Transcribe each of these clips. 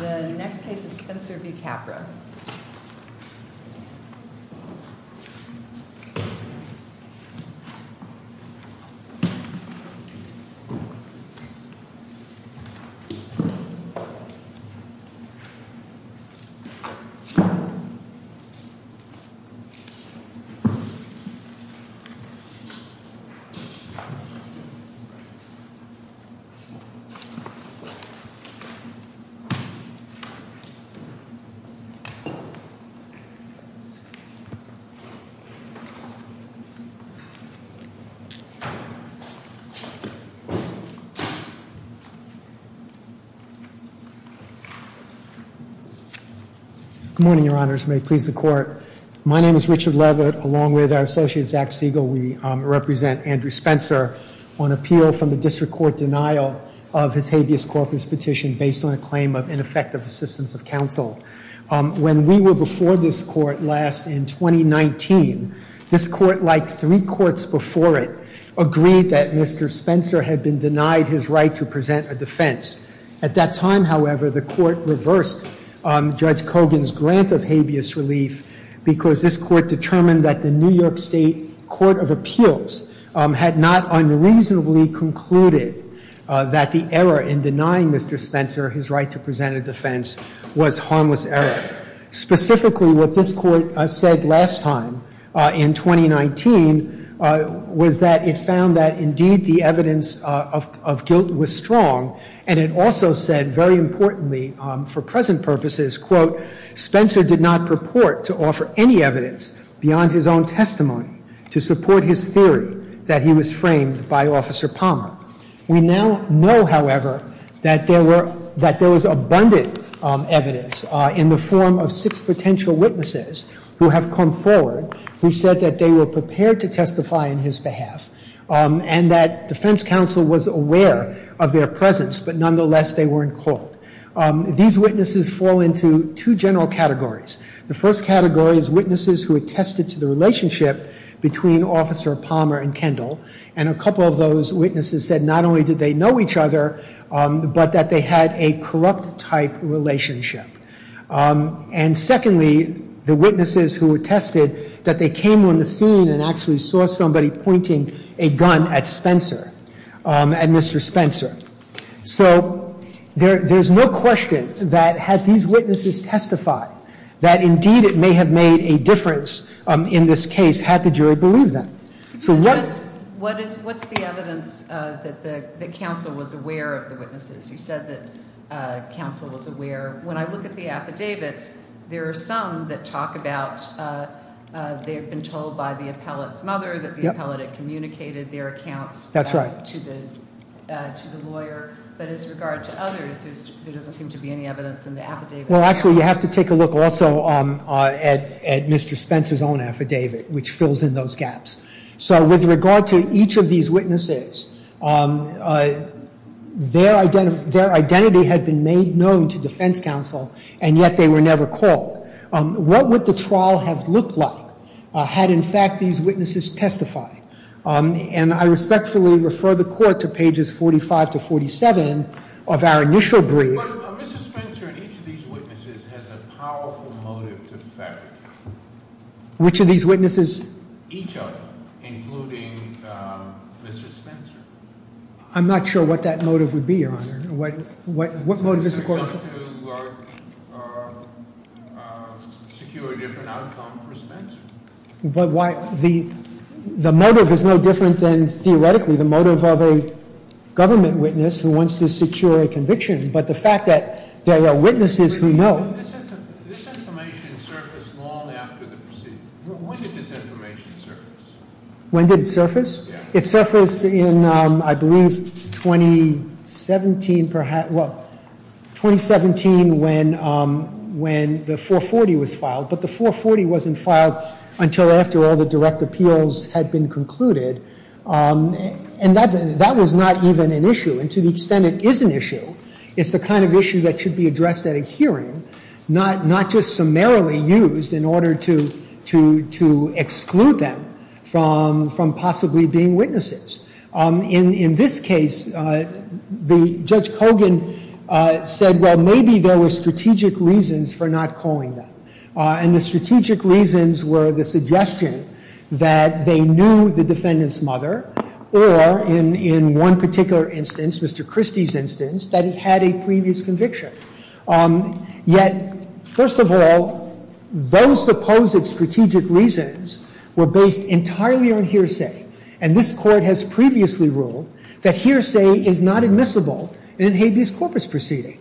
The next case is Spencer v. Capra. Good morning, Your Honors, and may it please the Court. My name is Richard Levitt, along with our associate Zach Siegel, we represent Andrew Spencer on appeal from the district court denial of his habeas corpus petition based on a claim of ineffective assistance of counsel. When we were before this court last in 2019, this court, like three courts before it, agreed that Mr. Spencer had been denied his right to present a defense. At that time, however, the court reversed Judge Cogan's grant of habeas relief because this court determined that the New York State Court of Appeals had not unreasonably concluded that the error in denying Mr. Spencer his right to present a defense was harmless error. Specifically, what this court said last time in 2019 was that it found that indeed the evidence of guilt was strong, and it also said very importantly for present purposes, quote, Spencer did not purport to offer any evidence beyond his own testimony to support his theory that he was framed by Officer Palmer. We now know, however, that there was abundant evidence in the form of six potential witnesses who have come forward who said that they were prepared to testify in his behalf, and that defense counsel was aware of their presence, but nonetheless, they weren't called. These witnesses fall into two general categories. The first category is witnesses who attested to the relationship between Officer Palmer and Kendall. And a couple of those witnesses said not only did they know each other, but that they had a corrupt type relationship. And secondly, the witnesses who attested that they came on the scene and actually saw somebody pointing a gun at Spencer, at Mr. Spencer. So there's no question that had these witnesses testified, that indeed it may have made a difference in this case had the jury believed them. So what- What's the evidence that the counsel was aware of the witnesses? You said that counsel was aware. When I look at the affidavits, there are some that talk about they've been told by the appellate's mother that the appellate had communicated their accounts- That's right. To the lawyer, but as regard to others, there doesn't seem to be any evidence in the affidavit. Well, actually, you have to take a look also at Mr. Spencer's own affidavit, which fills in those gaps. So with regard to each of these witnesses, their identity had been made known to defense counsel, and yet they were never called. What would the trial have looked like had, in fact, these witnesses testified? And I respectfully refer the court to pages 45 to 47 of our initial brief. But Mr. Spencer in each of these witnesses has a powerful motive to fabricate. Which of these witnesses? Each of them, including Mr. Spencer. I'm not sure what that motive would be, Your Honor. What motive is the court- It's to secure a different outcome for Spencer. But why- The motive is no different than, theoretically, the motive of a government witness who wants to secure a conviction. But the fact that there are witnesses who know- This information surfaced long after the proceedings. When did this information surface? When did it surface? It surfaced in, I believe, 2017 when the 440 was filed. But the 440 wasn't filed until after all the direct appeals had been concluded. And that was not even an issue. And to the extent it is an issue, it's the kind of issue that should be addressed at a hearing, not just summarily used in order to exclude them from possibly being witnesses. In this case, Judge Kogan said, well, maybe there were strategic reasons for not calling them. And the strategic reasons were the suggestion that they knew the defendant's mother, or in one particular instance, Mr. Christie's instance, that he had a previous conviction. Yet, first of all, those supposed strategic reasons were based entirely on hearsay. And this court has previously ruled that hearsay is not admissible in a habeas corpus proceeding,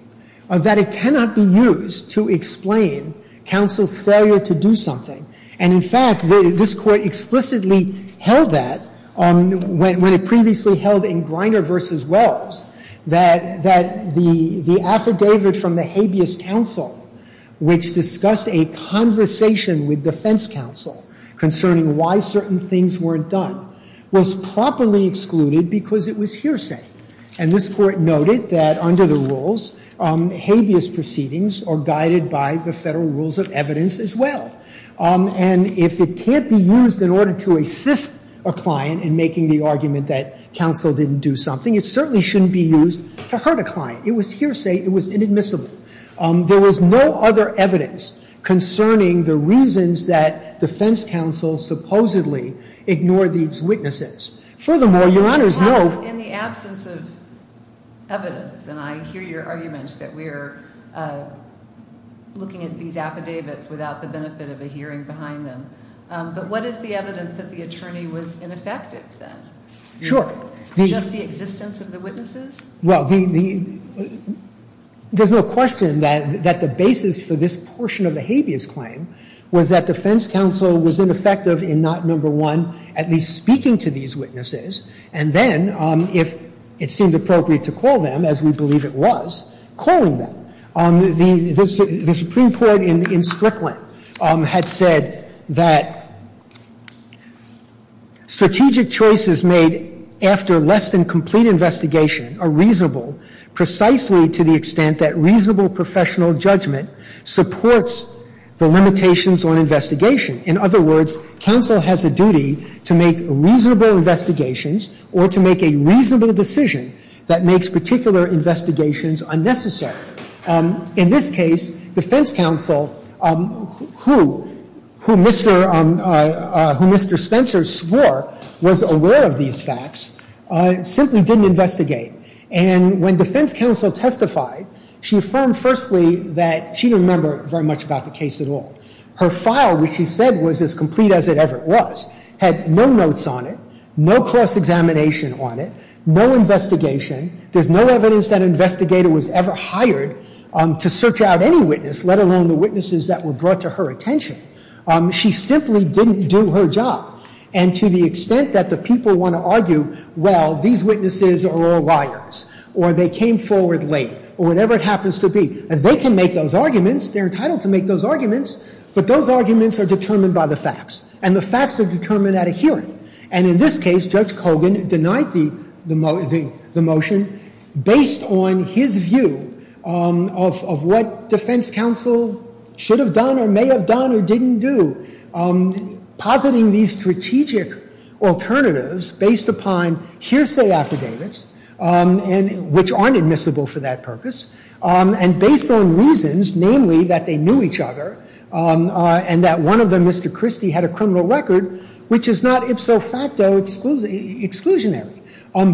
that it cannot be used to explain counsel's failure to do something. And in fact, this court explicitly held that, when it previously held in Griner v. Wells, that the affidavit from the habeas counsel, which discussed a conversation with defense counsel concerning why certain things weren't done, was properly excluded because it was hearsay. And this court noted that under the rules, habeas proceedings are guided by the federal rules of evidence as well. And if it can't be used in order to assist a client in making the argument that counsel didn't do something, it certainly shouldn't be used to hurt a client. It was hearsay. It was inadmissible. There was no other evidence concerning the reasons that defense counsel supposedly ignored these witnesses. Furthermore, your Honor's note- In the absence of evidence, and I hear your argument that we're looking at these affidavits without the benefit of a hearing behind them, but what is the evidence that the attorney was ineffective then? Sure. Just the existence of the witnesses? Well, there's no question that the basis for this portion of the habeas claim was that defense counsel was ineffective in not, number one, at least speaking to these witnesses. And then, if it seemed appropriate to call them, as we believe it was, calling them. The Supreme Court in Strickland had said that strategic choices made after less than complete investigation are reasonable, precisely to the extent that reasonable professional judgment supports the limitations on investigation. In other words, counsel has a duty to make reasonable investigations or to make a reasonable decision that makes particular investigations unnecessary. In this case, defense counsel, who Mr. Spencer swore was aware of these facts, simply didn't investigate. And when defense counsel testified, she affirmed firstly that she didn't remember very much about the case at all. Her file, which she said was as complete as it ever was, had no notes on it, no cross-examination on it, no investigation. There's no evidence that an investigator was ever hired to search out any witness, let alone the witnesses that were brought to her attention. She simply didn't do her job. And to the extent that the people want to argue, well, these witnesses are all liars, or they came forward late, or whatever it happens to be, and they can make those arguments. They're entitled to make those arguments, but those arguments are determined by the facts. And the facts are determined at a hearing. And in this case, Judge Kogan denied the motion based on his view of what defense counsel should have done or may have done or didn't do. Positing these strategic alternatives based upon hearsay affidavits, which aren't admissible for that purpose, and based on reasons, namely that they knew each other, and that one of them, Mr. Christie, had a criminal record which is not ipso facto exclusionary.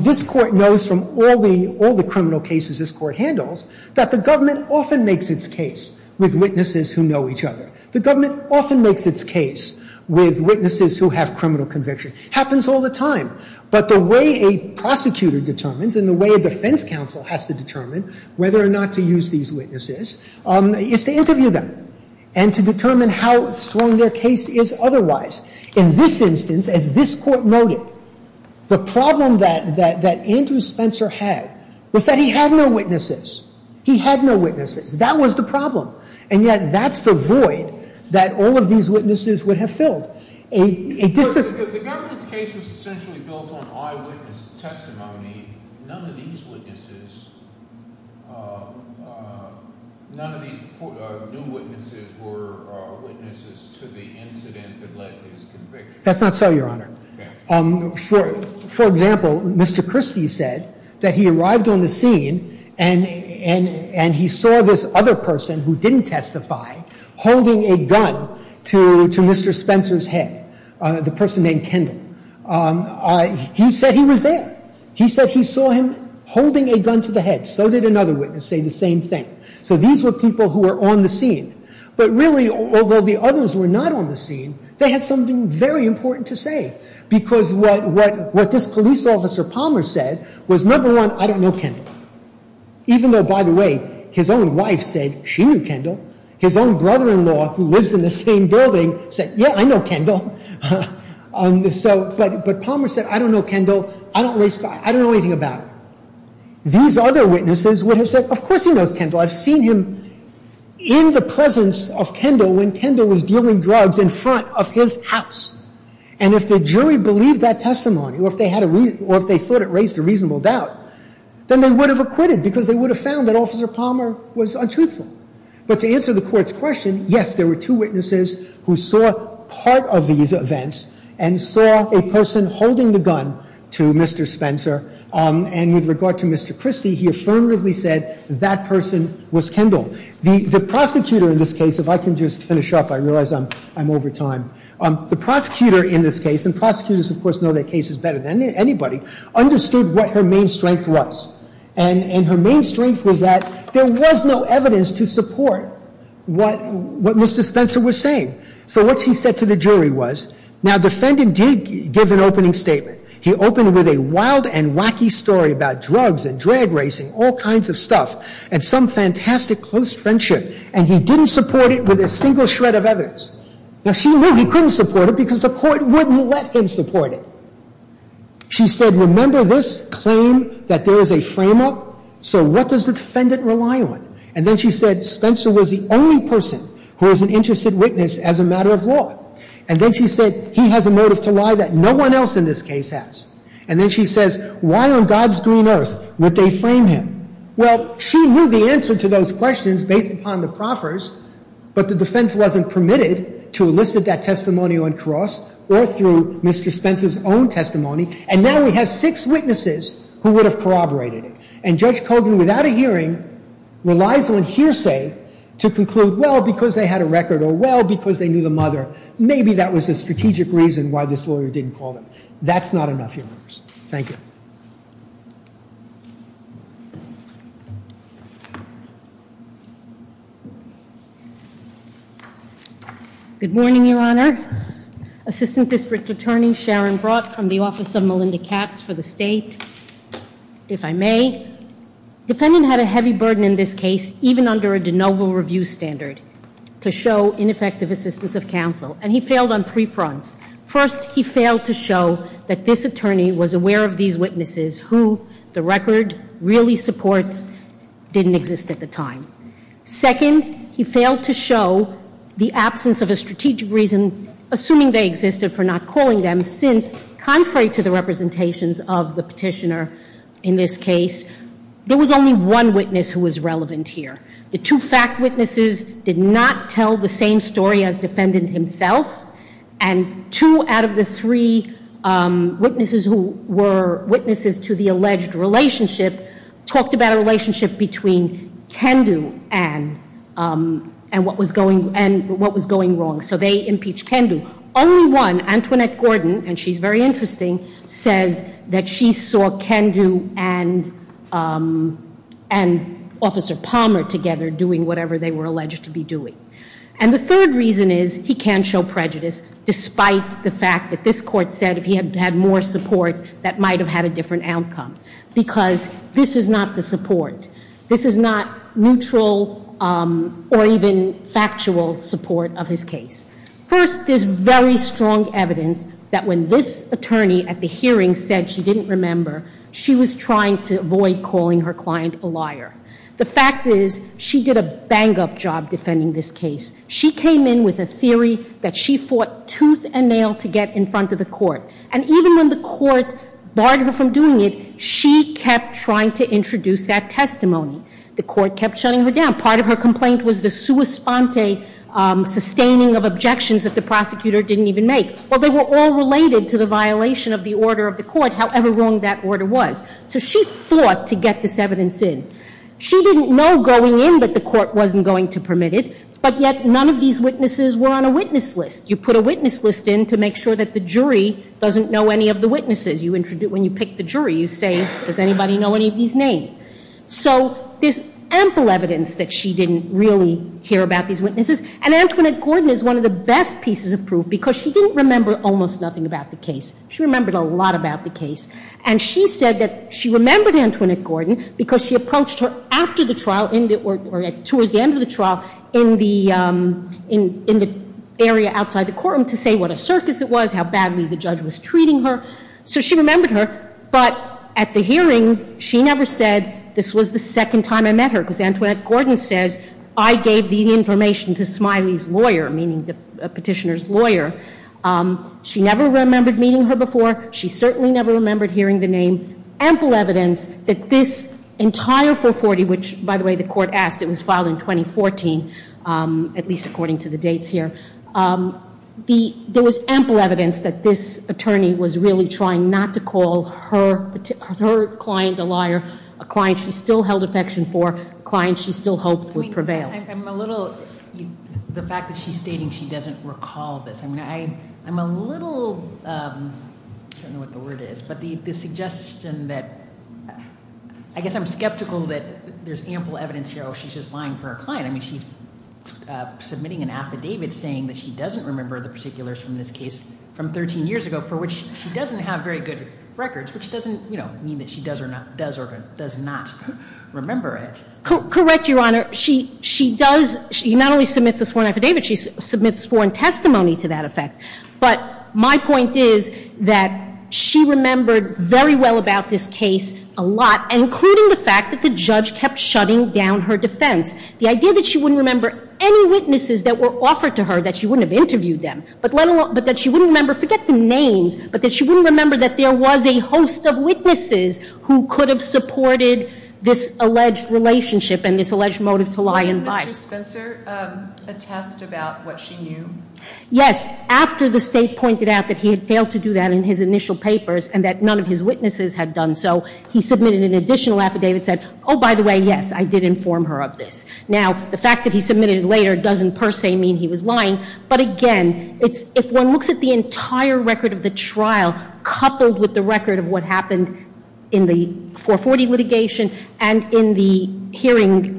This court knows from all the criminal cases this court handles that the government often makes its case with witnesses who know each other. The government often makes its case with witnesses who have criminal conviction. Happens all the time. But the way a prosecutor determines and the way a defense counsel has to determine whether or not to use these witnesses is to interview them and to determine how strong their case is otherwise. In this instance, as this court noted, the problem that Andrew Spencer had was that he had no witnesses. He had no witnesses. That was the problem. And yet, that's the void that all of these witnesses would have filled. A district- The government's case was essentially built on eyewitness testimony. None of these witnesses, none of these new witnesses were witnesses to the incident that led to his conviction. That's not so, your honor. For example, Mr. Christie said that he arrived on the scene, and he saw this other person who didn't testify, holding a gun to Mr. Spencer's head, the person named Kendall. He said he was there. He said he saw him holding a gun to the head. So did another witness say the same thing. So these were people who were on the scene. But really, although the others were not on the scene, they had something very important to say. Because what this police officer Palmer said was, number one, I don't know Kendall. Even though, by the way, his own wife said she knew Kendall. His own brother-in-law, who lives in the same building, said, yeah, I know Kendall. But Palmer said, I don't know Kendall. I don't know anything about him. These other witnesses would have said, of course he knows Kendall. I've seen him in the presence of Kendall when Kendall was dealing drugs in front of his house. And if the jury believed that testimony, or if they thought it raised a reasonable doubt, then they would have acquitted, because they would have found that Officer Palmer was untruthful. But to answer the court's question, yes, there were two witnesses who saw part of these events, and saw a person holding the gun to Mr. Spencer. And with regard to Mr. Christie, he affirmatively said that person was Kendall. The prosecutor in this case, if I can just finish up, I realize I'm over time. The prosecutor in this case, and prosecutors of course know their cases better than anybody, understood what her main strength was. And her main strength was that there was no evidence to support what Mr. Spencer was saying. So what she said to the jury was, now the defendant did give an opening statement. He opened with a wild and wacky story about drugs and drag racing, all kinds of stuff, and some fantastic close friendship, and he didn't support it with a single shred of evidence. Now she knew he couldn't support it, because the court wouldn't let him support it. She said, remember this claim that there is a frame up? So what does the defendant rely on? And then she said, Spencer was the only person who was an interested witness as a matter of law. And then she said, he has a motive to lie that no one else in this case has. And then she says, why on God's green earth would they frame him? Well, she knew the answer to those questions based upon the proffers, but the defense wasn't permitted to elicit that testimony on cross or through Mr. Spencer's own testimony. And now we have six witnesses who would have corroborated it. And Judge Colgan, without a hearing, relies on hearsay to conclude, well, because they had a record, or well, because they knew the mother. Maybe that was a strategic reason why this lawyer didn't call them. That's not enough, Your Honors. Thank you. Good morning, Your Honor. Assistant District Attorney Sharon Brought from the office of Melinda Katz for the state. If I may, defendant had a heavy burden in this case, even under a de novo review standard, to show ineffective assistance of counsel. And he failed on three fronts. First, he failed to show that this attorney was aware of these witnesses who the record really supports didn't exist at the time. Second, he failed to show the absence of a strategic reason, assuming they existed, for not calling them. Since, contrary to the representations of the petitioner in this case, there was only one witness who was relevant here. The two fact witnesses did not tell the same story as defendant himself. And two out of the three witnesses who were witnesses to the alleged relationship talked about a relationship between Kendu and what was going wrong. So they impeached Kendu. Only one, Antoinette Gordon, and she's very interesting, says that she saw Kendu and Officer Palmer together doing whatever they were alleged to be doing. And the third reason is he can't show prejudice, despite the fact that this court said if he had had more support, that might have had a different outcome. Because this is not the support. This is not neutral or even factual support of his case. First, there's very strong evidence that when this attorney at the hearing said she didn't remember, she was trying to avoid calling her client a liar. The fact is, she did a bang up job defending this case. She came in with a theory that she fought tooth and nail to get in front of the court. And even when the court barred her from doing it, she kept trying to introduce that testimony. The court kept shutting her down. Part of her complaint was the sua sponte sustaining of objections that the prosecutor didn't even make. Well, they were all related to the violation of the order of the court, however wrong that order was. So she fought to get this evidence in. She didn't know going in that the court wasn't going to permit it, but yet none of these witnesses were on a witness list. You put a witness list in to make sure that the jury doesn't know any of the witnesses. When you pick the jury, you say, does anybody know any of these names? So there's ample evidence that she didn't really hear about these witnesses. And Antoinette Gordon is one of the best pieces of proof because she didn't remember almost nothing about the case. She remembered a lot about the case. And she said that she remembered Antoinette Gordon because she approached her after the trial or towards the end of the trial in the area outside the courtroom to say what a circus it was, how badly the judge was treating her. So she remembered her, but at the hearing, she never said, this was the second time I met her. because Antoinette Gordon says, I gave the information to Smiley's lawyer, meaning the petitioner's lawyer. She never remembered meeting her before. She certainly never remembered hearing the name. There was ample evidence that this entire 440, which, by the way, the court asked. It was filed in 2014, at least according to the dates here. There was ample evidence that this attorney was really trying not to call her client a liar, a client she still held affection for, a client she still hoped would prevail. I'm a little, the fact that she's stating she doesn't recall this, I mean, I'm a little, I don't know what the word is, but the suggestion that, I guess I'm skeptical that there's ample evidence here, oh, she's just lying for her client. I mean, she's submitting an affidavit saying that she doesn't remember the particulars from this case from 13 years ago, for which she doesn't have very good records, which doesn't mean that she does or does not remember it. Correct, Your Honor. She not only submits a sworn affidavit, she submits sworn testimony to that effect. But my point is that she remembered very well about this case a lot, including the fact that the judge kept shutting down her defense. The idea that she wouldn't remember any witnesses that were offered to her, that she wouldn't have interviewed them, but that she wouldn't remember, forget the names, but that she wouldn't remember that there was a host of witnesses who could have supported this alleged relationship and this alleged motive to lie in life. Did Mr. Spencer attest about what she knew? Yes, after the state pointed out that he had failed to do that in his initial papers and that none of his witnesses had done so, he submitted an additional affidavit that said, by the way, yes, I did inform her of this. Now, the fact that he submitted it later doesn't per se mean he was lying. But again, if one looks at the entire record of the trial, coupled with the record of what happened in the 440 litigation and in the hearing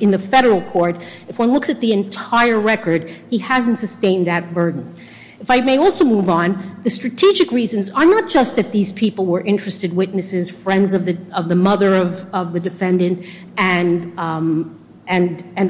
in the federal court, if one looks at the entire record, he hasn't sustained that burden. If I may also move on, the strategic reasons are not just that these people were interested witnesses, friends of the mother of the defendant, and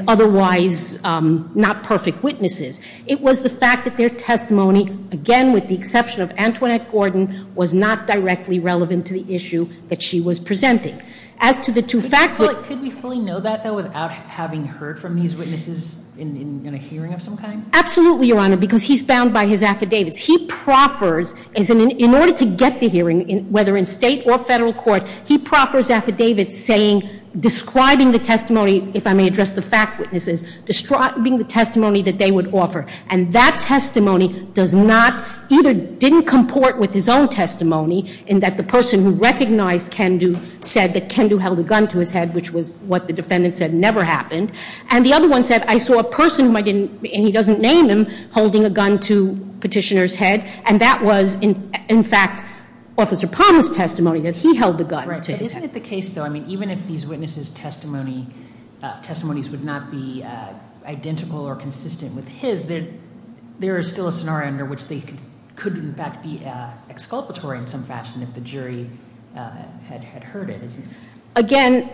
otherwise not perfect witnesses. It was the fact that their testimony, again with the exception of Antoinette Gordon, was not directly relevant to the issue that she was presenting. As to the two fact- Could we fully know that, though, without having heard from these witnesses in a hearing of some kind? Absolutely, Your Honor, because he's bound by his affidavits. He proffers, in order to get the hearing, whether in state or federal court, he proffers affidavits saying, describing the testimony, if I may address the fact witnesses, describing the testimony that they would offer. And that testimony does not, either didn't comport with his own testimony, in that the person who recognized Kendu said that Kendu held a gun to his head, which was what the defendant said never happened. And the other one said, I saw a person, and he doesn't name him, holding a gun to petitioner's head. And that was, in fact, Officer Palmer's testimony, that he held the gun to his head. Right, but isn't it the case, though, I mean, even if these witnesses' testimonies would not be identical or dispassionate, the jury had heard it, isn't it? Again,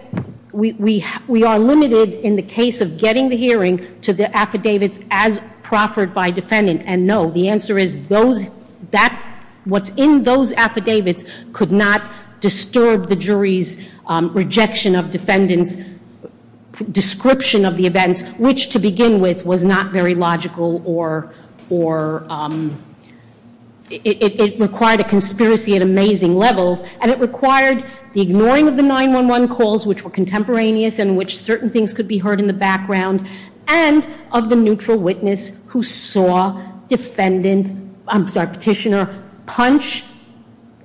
we are limited, in the case of getting the hearing, to the affidavits as proffered by defendant. And no, the answer is, what's in those affidavits could not disturb the jury's rejection of defendant's description of the events, which to begin with was not very logical or it required a conspiracy at amazing levels. And it required the ignoring of the 911 calls, which were contemporaneous and which certain things could be heard in the background. And of the neutral witness who saw petitioner punch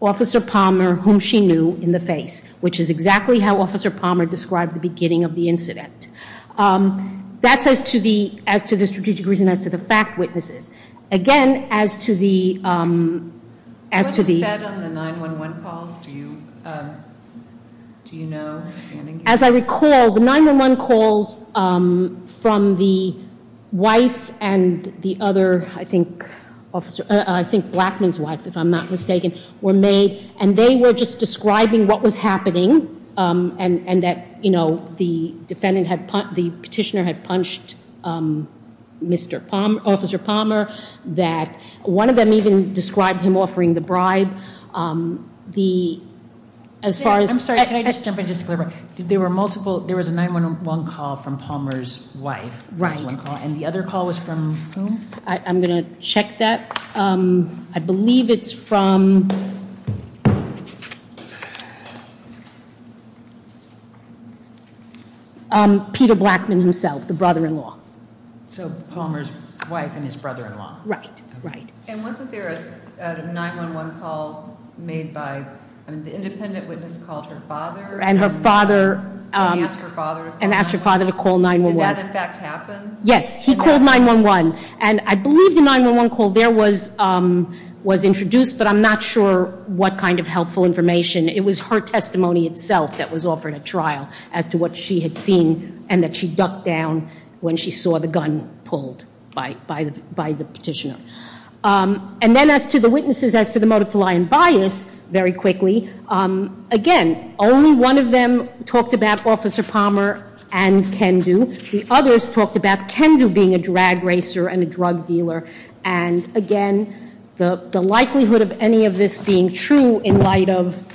Officer Palmer, whom she knew, in the face, which is exactly how Officer Palmer described the beginning of the incident. That's as to the strategic reason, as to the fact witnesses. Again, as to the- What was said on the 911 calls, do you know, standing here? As I recall, the 911 calls from the wife and the other, I think, officer, I think Blackman's wife, if I'm not mistaken, were made. And they were just describing what was happening, and that the petitioner had punched Officer Palmer. That one of them even described him offering the bribe. As far as- I'm sorry, can I just jump in just a little bit? There was a 911 call from Palmer's wife. Right. And the other call was from whom? I'm going to check that. I believe it's from Peter Blackman himself, the brother-in-law. So Palmer's wife and his brother-in-law. Right, right. And wasn't there a 911 call made by, I mean, the independent witness called her father- And her father- And he asked her father to call 911. And asked her father to call 911. Did that in fact happen? Yes, he called 911. And I believe the 911 call there was introduced, but I'm not sure what kind of helpful information. It was her testimony itself that was offered at trial as to what she had seen and that she ducked down when she saw the gun pulled by the petitioner. And then as to the witnesses, as to the motive to lie and bias, very quickly, again, only one of them talked about Officer Palmer and Kendu. The others talked about Kendu being a drag racer and a drug dealer. And again, the likelihood of any of this being true in light of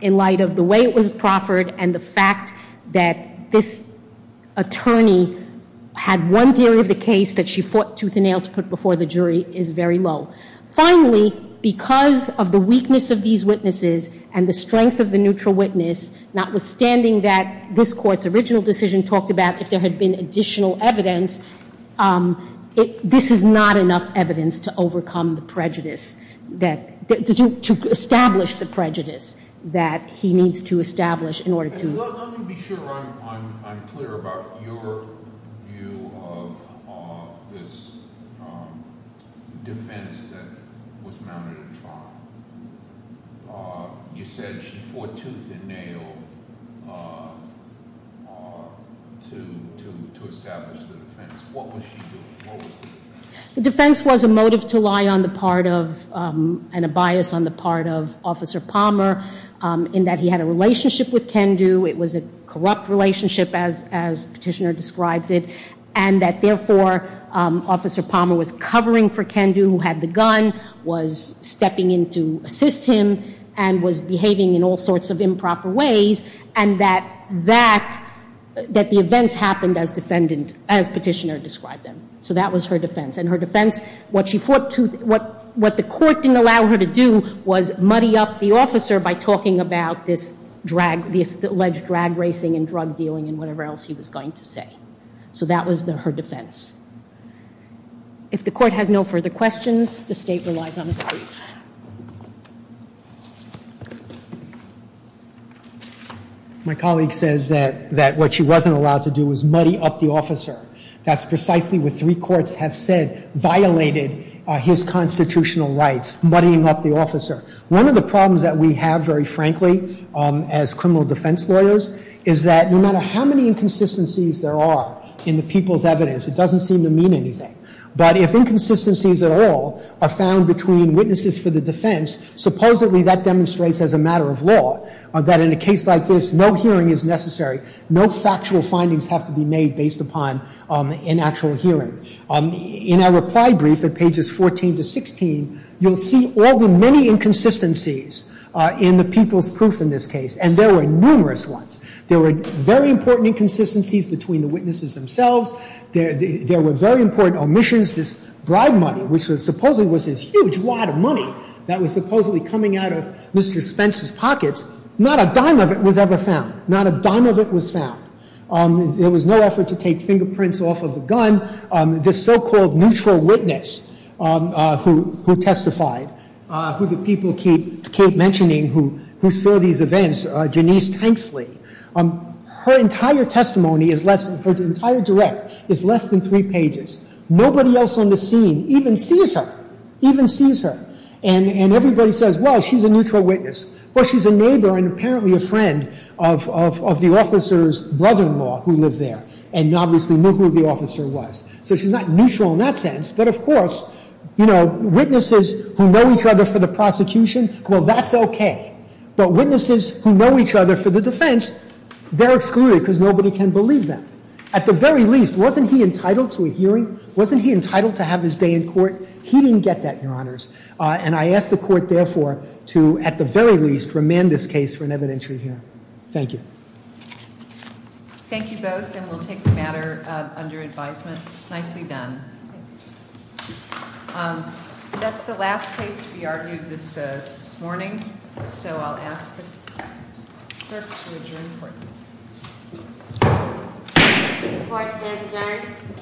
the way it was proffered and the fact that this attorney had one theory of the case that she fought tooth and nail to put before the jury is very low. Finally, because of the weakness of these witnesses and the strength of the neutral witness, notwithstanding that this court's original decision talked about if there had been additional evidence, this is not enough evidence to overcome the prejudice that, to establish the prejudice that he needs to establish in order to- Let me be sure I'm clear about your view of this defense that was mounted at trial. You said she fought tooth and nail to establish the defense. What was she doing? What was the defense? The defense was a motive to lie on the part of, and a bias on the part of Officer Palmer, in that he had a relationship with Kendu, it was a corrupt relationship as petitioner describes it. And that therefore, Officer Palmer was covering for Kendu who had the gun, was stepping in to assist him, and was behaving in all sorts of improper ways. And that the events happened as petitioner described them. So that was her defense. And her defense, what the court didn't allow her to do was muddy up the officer by talking about this alleged drag racing and drug dealing and whatever else he was going to say. So that was her defense. If the court has no further questions, the state relies on its brief. My colleague says that what she wasn't allowed to do was muddy up the officer. That's precisely what three courts have said violated his constitutional rights, muddying up the officer. One of the problems that we have, very frankly, as criminal defense lawyers, is that no matter how many inconsistencies there are in the people's evidence, it doesn't seem to mean anything. But if inconsistencies at all are found between witnesses for the defense, supposedly that demonstrates as a matter of law that in a case like this, no hearing is necessary. No factual findings have to be made based upon an actual hearing. In our reply brief at pages 14 to 16, you'll see all the many inconsistencies in the people's proof in this case. And there were numerous ones. There were very important inconsistencies between the witnesses themselves. There were very important omissions, this bribe money, which supposedly was this huge wad of money that was supposedly coming out of Mr. Spence's pockets, not a dime of it was ever found. Not a dime of it was found. There was no effort to take fingerprints off of the gun. This so-called neutral witness who testified, who the people keep mentioning who saw these events, Janice Tanksley. Her entire testimony, her entire direct, is less than three pages. Nobody else on the scene even sees her, even sees her. And everybody says, well, she's a neutral witness. Well, she's a neighbor and apparently a friend of the officer's brother-in-law who lived there. And obviously knew who the officer was. So she's not neutral in that sense. But of course, witnesses who know each other for the prosecution, well, that's okay. But witnesses who know each other for the defense, they're excluded because nobody can believe them. At the very least, wasn't he entitled to a hearing? Wasn't he entitled to have his day in court? He didn't get that, your honors. And I ask the court, therefore, to, at the very least, remand this case for an evidentiary hearing. Thank you. Thank you both, and we'll take the matter under advisement. Nicely done. That's the last case to be argued this morning. So I'll ask the clerk to adjourn the court. The court is now adjourned.